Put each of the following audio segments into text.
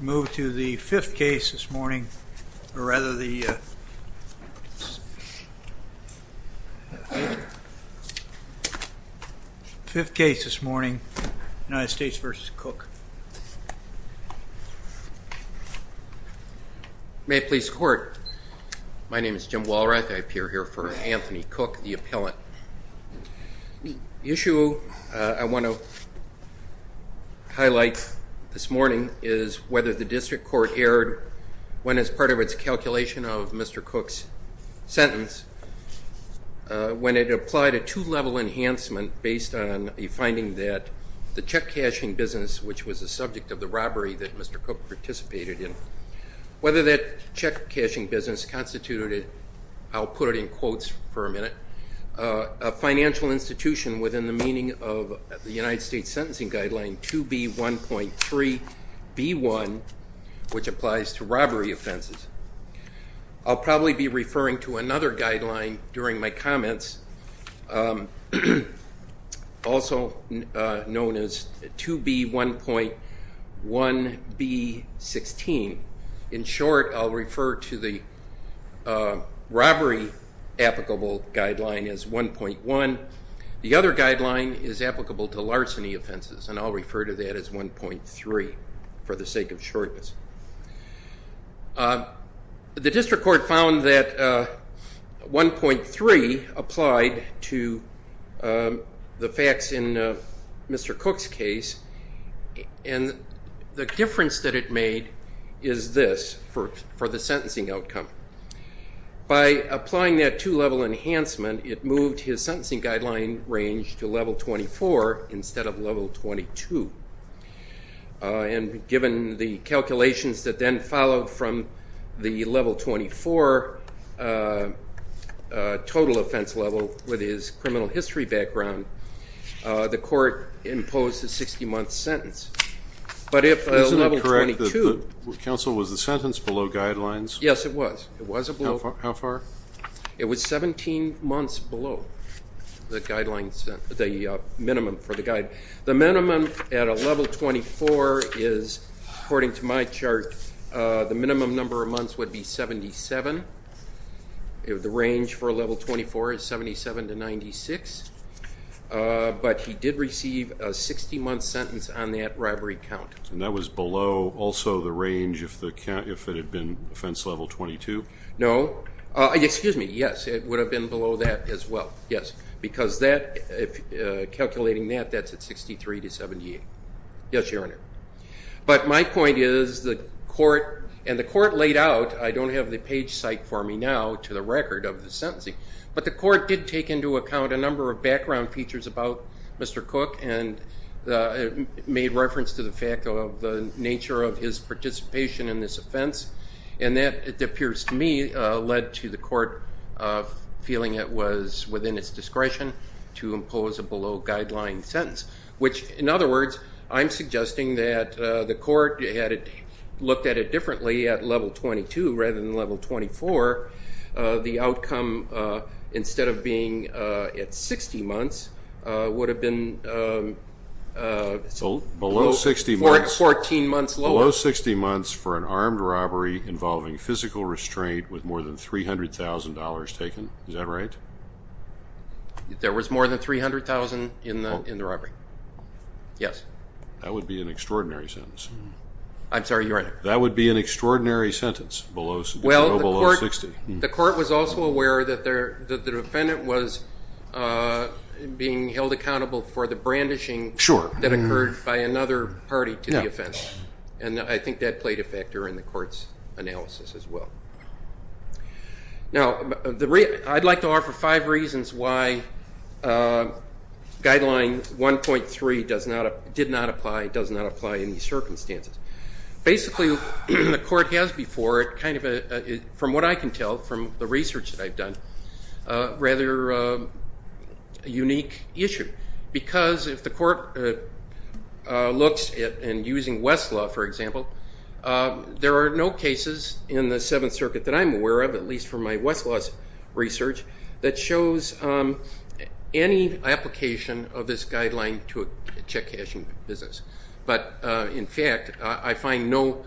We move to the 5th case this morning, or rather the 5th case this morning, United States v. Cook May it please the court, my name is Jim Walrath, I appear here for Anthony Cook, the appellant The issue I want to highlight this morning is whether the district court erred when, as part of its calculation of Mr. Cook's sentence, when it applied a two-level enhancement based on a finding that the check-cashing business, which was the subject of the robbery that Mr. Cook participated in, whether that check-cashing business constituted, I'll put it in quotes for a minute, a financial institution within the meaning of the United States In short, I'll refer to the robbery applicable guideline as 1.1, the other guideline is applicable to larceny offenses, and I'll refer to that as 1.3 for the sake of shortness The district court found that 1.3 applied to the facts in Mr. Cook's case, and the difference that it made is this for the sentencing outcome By applying that two-level enhancement, it moved his sentencing guideline range to level 24 instead of level 22, and given the calculations that then followed from the level 24 total offense level with his criminal history background, the court imposed a 60-month sentence, but if level 22, yes it was, it was 17 months below the minimum for the guideline The minimum at a level 24 is, according to my chart, the minimum number of months would be 77, the range for a level 24 is 77 to 96, but he did receive a 60-month sentence on that robbery count And that was below also the range if it had been offense level 22? No, excuse me, yes, it would have been below that as well, yes, because calculating that, that's at 63 to 78, yes your honor But my point is the court, and the court laid out, I don't have the page cite for me now to the record of the sentencing, but the court did take into account a number of background features about Mr. Cook and made reference to the fact of the nature of his participation in this offense, and that, it appears to me, led to the court feeling it was within its discretion to impose a below guideline sentence Which, in other words, I'm suggesting that the court, had it looked at it differently at level 22 rather than level 24, the outcome, instead of being at 60 months, would have been 14 months lower Below 60 months for an armed robbery involving physical restraint with more than $300,000 taken, is that right? There was more than $300,000 in the robbery, yes That would be an extraordinary sentence I'm sorry, your honor That would be an extraordinary sentence below 60 Well, the court was also aware that the defendant was being held accountable for the brandishing that occurred by another party to the offense And I think that played a factor in the court's analysis as well Now, I'd like to offer five reasons why guideline 1.3 did not apply, does not apply in these circumstances Basically, the court has before, from what I can tell from the research that I've done, a rather unique issue Because if the court looks at, and using Westlaw, for example, there are no cases in the Seventh Circuit that I'm aware of, at least from my Westlaw's research, that shows any application of this guideline to a check-cashing business But, in fact, I find no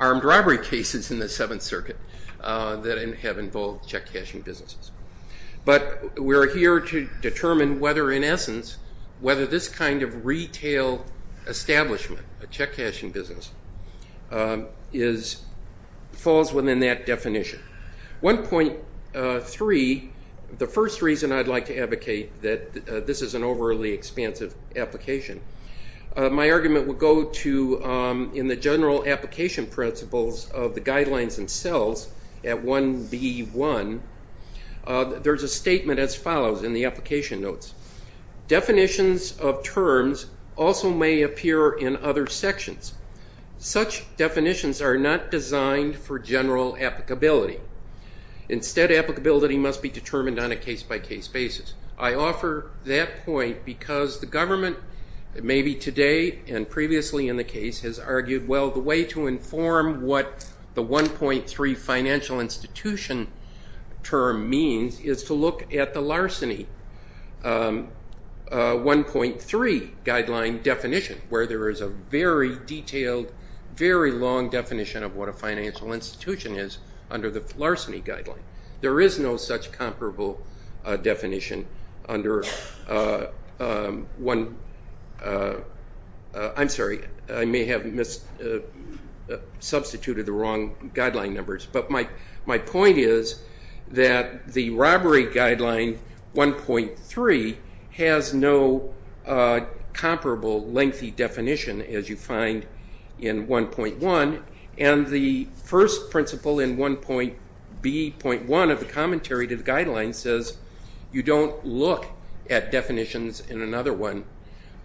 armed robbery cases in the Seventh Circuit that have involved check-cashing businesses But we're here to determine whether, in essence, whether this kind of retail establishment, a check-cashing business, falls within that definition 1.3, the first reason I'd like to advocate that this is an overly expansive application My argument would go to, in the general application principles of the guidelines themselves, at 1.B.1, there's a statement as follows in the application notes Definitions of terms also may appear in other sections Such definitions are not designed for general applicability Instead, applicability must be determined on a case-by-case basis I offer that point because the government, maybe today and previously in the case, has argued, well, the way to inform what the 1.3 financial institution term means is to look at the larceny 1.3 guideline definition, where there is a very detailed, very long definition of what a financial institution is under the larceny guideline There is no such comparable definition under 1, I'm sorry, I may have substituted the wrong guideline numbers But my point is that the robbery guideline 1.3 has no comparable lengthy definition as you find in 1.1 And the first principle in 1.B.1 of the commentary to the guidelines says you don't look at definitions in another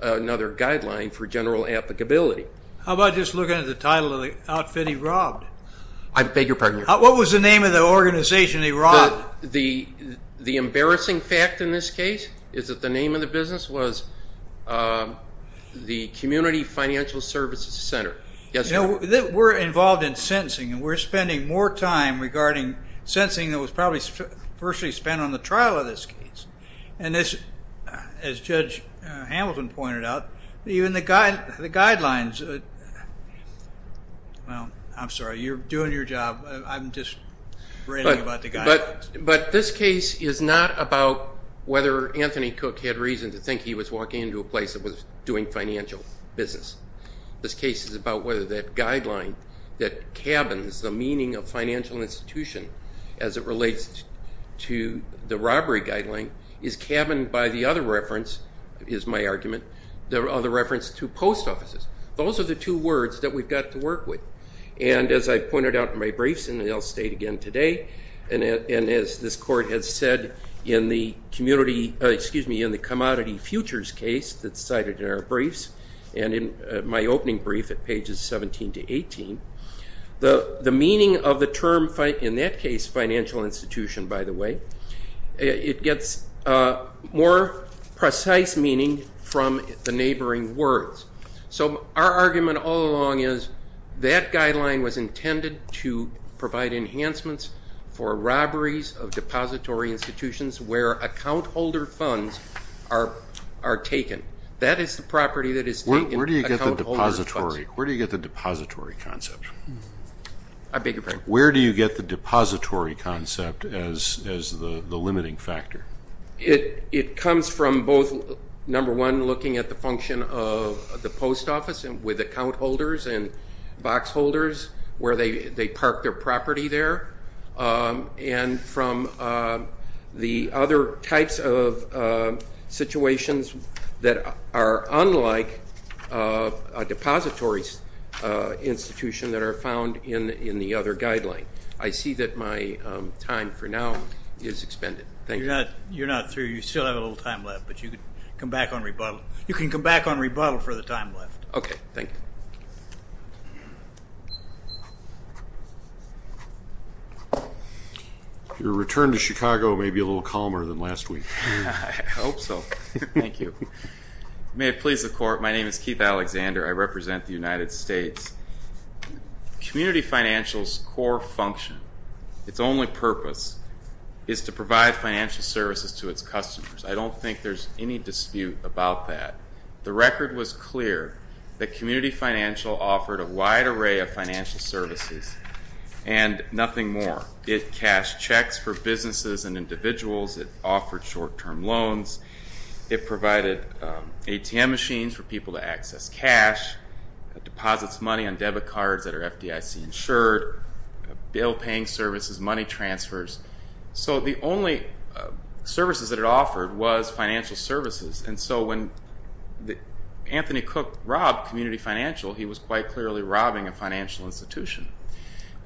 guideline for general applicability How about just looking at the title of the outfit he robbed? I beg your pardon? What was the name of the organization he robbed? The embarrassing fact in this case is that the name of the business was the Community Financial Services Center We're involved in sentencing and we're spending more time regarding sentencing than was probably spent on the trial of this case And as Judge Hamilton pointed out, even the guidelines, well, I'm sorry, you're doing your job, I'm just ranting about the guidelines But this case is not about whether Anthony Cook had reason to think he was walking into a place that was doing financial business This case is about whether that guideline that cabins the meaning of financial institution as it relates to the robbery guideline Is cabined by the other reference, is my argument, the other reference to post offices Those are the two words that we've got to work with And as I pointed out in my briefs and I'll state again today And as this court has said in the Commodity Futures case that's cited in our briefs And in my opening brief at pages 17 to 18 The meaning of the term, in that case, financial institution, by the way It gets more precise meaning from the neighboring words So our argument all along is that guideline was intended to provide enhancements for robberies of depository institutions where account holder funds are taken Where do you get the depository concept? I beg your pardon? Where do you get the depository concept as the limiting factor? It comes from both, number one, looking at the function of the post office with account holders and box holders Where they park their property there And from the other types of situations that are unlike a depository institution that are found in the other guideline I see that my time for now is expended You're not through, you still have a little time left, but you can come back on rebuttal You can come back on rebuttal for the time left Okay, thank you Your return to Chicago may be a little calmer than last week I hope so, thank you May it please the court, my name is Keith Alexander, I represent the United States Community financial's core function, its only purpose, is to provide financial services to its customers I don't think there's any dispute about that The record was clear that community financial offered a wide array of financial services And nothing more It cashed checks for businesses and individuals, it offered short term loans It provided ATM machines for people to access cash It deposits money on debit cards that are FDIC insured Bill paying services, money transfers So the only services that it offered was financial services And so when Anthony Cook robbed community financial, he was quite clearly robbing a financial institution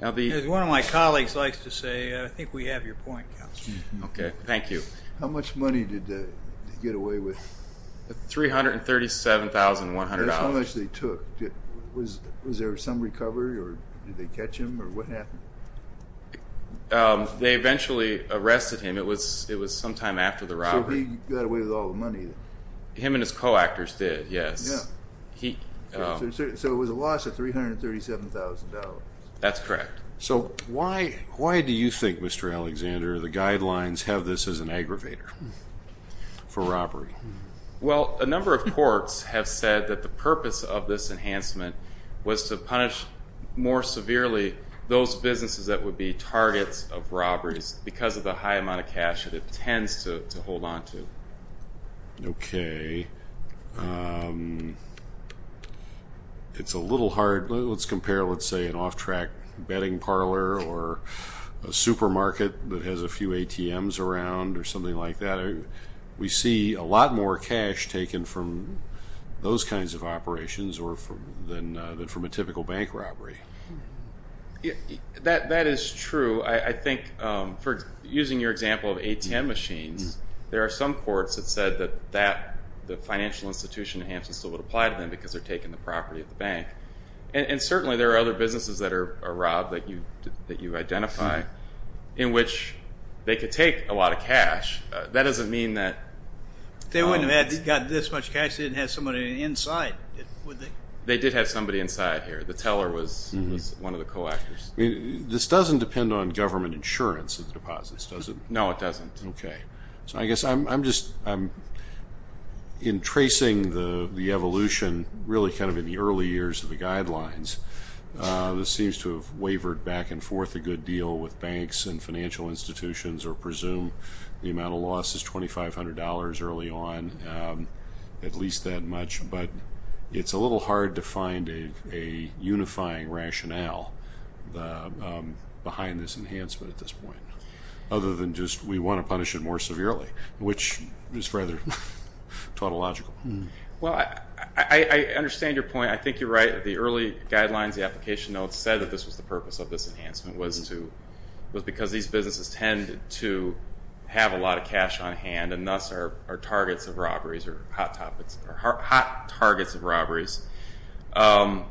As one of my colleagues likes to say, I think we have your point, Counselor Okay, thank you How much money did they get away with? $337,100 That's how much they took Was there some recovery, or did they catch him, or what happened? They eventually arrested him, it was sometime after the robbery So he got away with all the money Him and his co-actors did, yes So it was a loss of $337,000 That's correct So why do you think, Mr. Alexander, the guidelines have this as an aggravator for robbery? Well, a number of courts have said that the purpose of this enhancement Was to punish more severely those businesses that would be targets of robberies Because of the high amount of cash that it tends to hold on to Okay It's a little hard, let's compare, let's say an off-track bedding parlor Or a supermarket that has a few ATMs around, or something like that We see a lot more cash taken from those kinds of operations than from a typical bank robbery That is true, I think, for using your example of ATM machines There are some courts that said that the financial institution enhancement still would apply to them Because they're taking the property of the bank And certainly there are other businesses that are robbed that you identify In which they could take a lot of cash That doesn't mean that They wouldn't have gotten this much cash if they didn't have somebody inside, would they? They did have somebody inside here, the teller was one of the co-actors This doesn't depend on government insurance of the deposits, does it? No, it doesn't Okay, so I guess I'm just In tracing the evolution, really kind of in the early years of the guidelines This seems to have wavered back and forth a good deal with banks and financial institutions Or presume the amount of loss is $2,500 early on At least that much But it's a little hard to find a unifying rationale Behind this enhancement at this point Other than just we want to punish it more severely Which is rather tautological Well, I understand your point I think you're right, the early guidelines, the application notes Said that this was the purpose of this enhancement Was because these businesses tend to have a lot of cash on hand And thus are targets of robberies, or hot targets of robberies And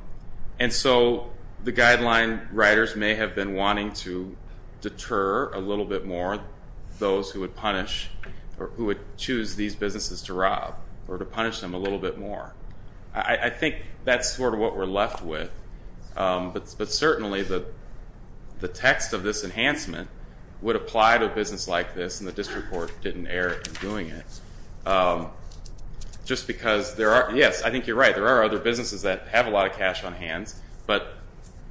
so the guideline writers may have been wanting to deter a little bit more Those who would choose these businesses to rob Or to punish them a little bit more I think that's sort of what we're left with But certainly the text of this enhancement Would apply to a business like this, and the district court didn't err in doing it Just because, yes, I think you're right There are other businesses that have a lot of cash on hand But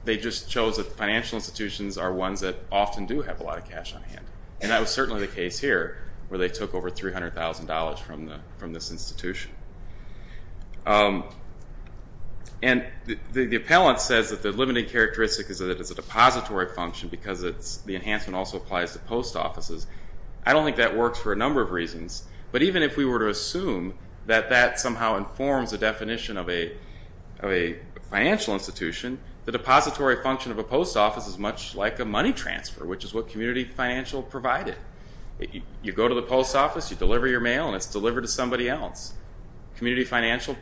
they just chose that financial institutions are ones that often do have a lot of cash on hand And that was certainly the case here Where they took over $300,000 from this institution And the appellant says that the limiting characteristic is that it's a depository function Because the enhancement also applies to post offices I don't think that works for a number of reasons But even if we were to assume that that somehow informs the definition of a financial institution The depository function of a post office is much like a money transfer Which is what community financial provided You go to the post office, you deliver your mail, and it's delivered to somebody else Community financial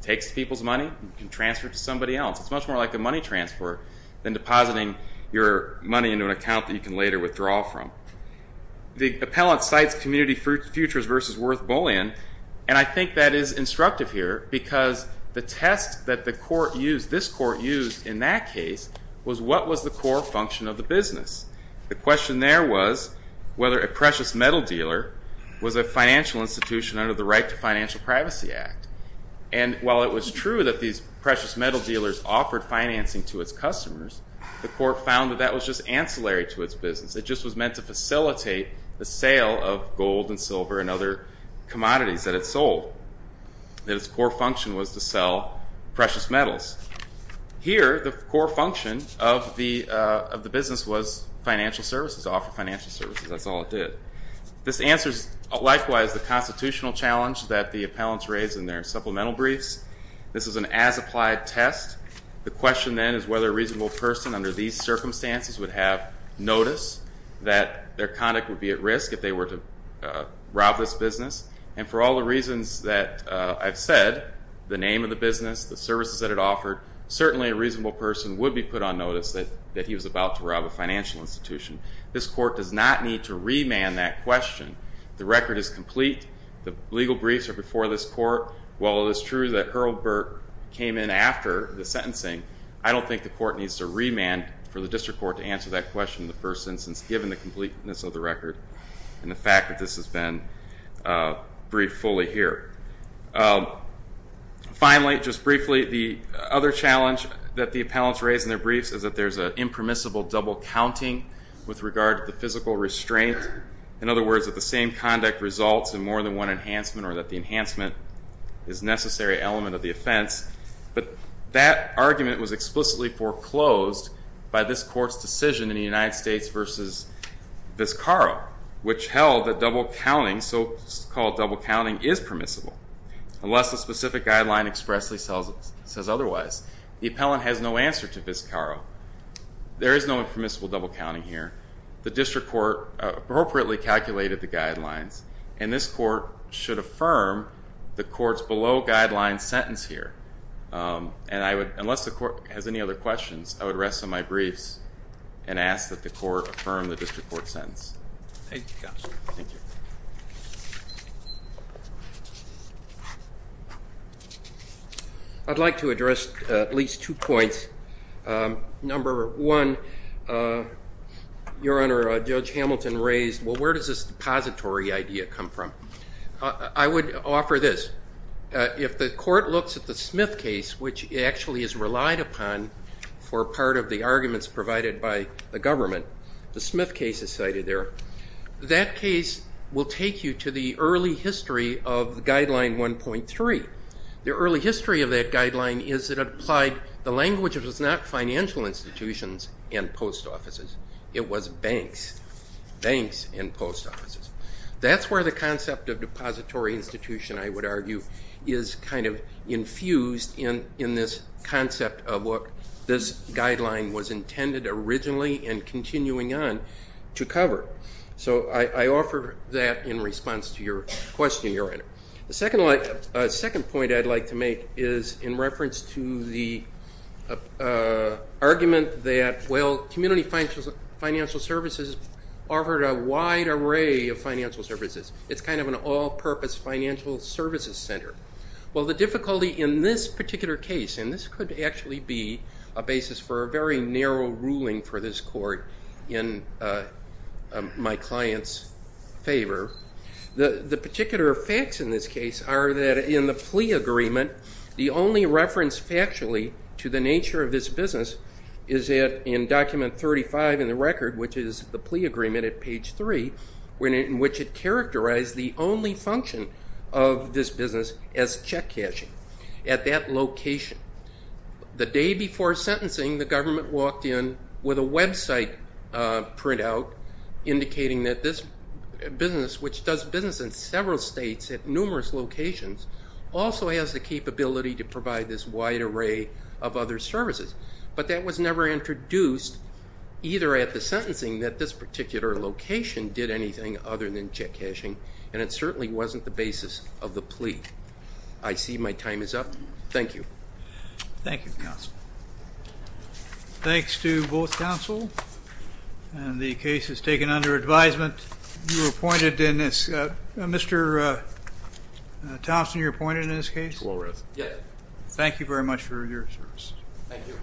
takes people's money and transfers it to somebody else It's much more like a money transfer than depositing your money into an account that you can later withdraw from The appellant cites community futures versus worth Boolean And I think that is instructive here Because the test that this court used in that case Was what was the core function of the business The question there was whether a precious metal dealer Was a financial institution under the Right to Financial Privacy Act And while it was true that these precious metal dealers offered financing to its customers The court found that that was just ancillary to its business It just was meant to facilitate the sale of gold and silver and other commodities that it sold That its core function was to sell precious metals Here, the core function of the business was financial services To offer financial services, that's all it did This answers, likewise, the constitutional challenge that the appellants raised in their supplemental briefs This is an as-applied test The question then is whether a reasonable person under these circumstances would have notice That their conduct would be at risk if they were to rob this business And for all the reasons that I've said The name of the business, the services that it offered Certainly a reasonable person would be put on notice that he was about to rob a financial institution This court does not need to remand that question The record is complete The legal briefs are before this court While it is true that Earl Burke came in after the sentencing I don't think the court needs to remand for the district court to answer that question in the first instance Given the completeness of the record And the fact that this has been briefed fully here Finally, just briefly, the other challenge that the appellants raised in their briefs Is that there's an impermissible double-counting with regard to the physical restraint In other words, that the same conduct results in more than one enhancement Or that the enhancement is a necessary element of the offense But that argument was explicitly foreclosed by this court's decision in the United States versus Vizcarro Which held that double-counting, so-called double-counting, is permissible Unless a specific guideline expressly says otherwise The appellant has no answer to Vizcarro There is no impermissible double-counting here The district court appropriately calculated the guidelines And this court should affirm the court's below-guidelines sentence here Unless the court has any other questions, I would rest on my briefs And ask that the court affirm the district court's sentence Thank you, Counselor I'd like to address at least two points Number one, Your Honor, Judge Hamilton raised, well, where does this depository idea come from? I would offer this If the court looks at the Smith case, which actually is relied upon For part of the arguments provided by the government The Smith case is cited there That case will take you to the early history of Guideline 1.3 The early history of that guideline is that it applied the language It was not financial institutions and post offices It was banks, banks and post offices That's where the concept of depository institution, I would argue Is kind of infused in this concept of what this guideline was intended originally And continuing on to cover So I offer that in response to your question, Your Honor The second point I'd like to make is in reference to the argument That, well, community financial services offered a wide array of financial services It's kind of an all-purpose financial services center Well, the difficulty in this particular case And this could actually be a basis for a very narrow ruling for this court In my client's favor The particular facts in this case are that in the plea agreement The only reference factually to the nature of this business Is in document 35 in the record, which is the plea agreement at page 3 In which it characterized the only function of this business as check cashing At that location The day before sentencing, the government walked in with a website printout Indicating that this business, which does business in several states at numerous locations Also has the capability to provide this wide array of other services But that was never introduced either at the sentencing That this particular location did anything other than check cashing And it certainly wasn't the basis of the plea I see my time is up. Thank you. Thank you, counsel. Thanks to both counsel And the case is taken under advisement You were appointed in this... Mr. Thompson, you're appointed in this case? Yes. Thank you very much for your service. Thank you.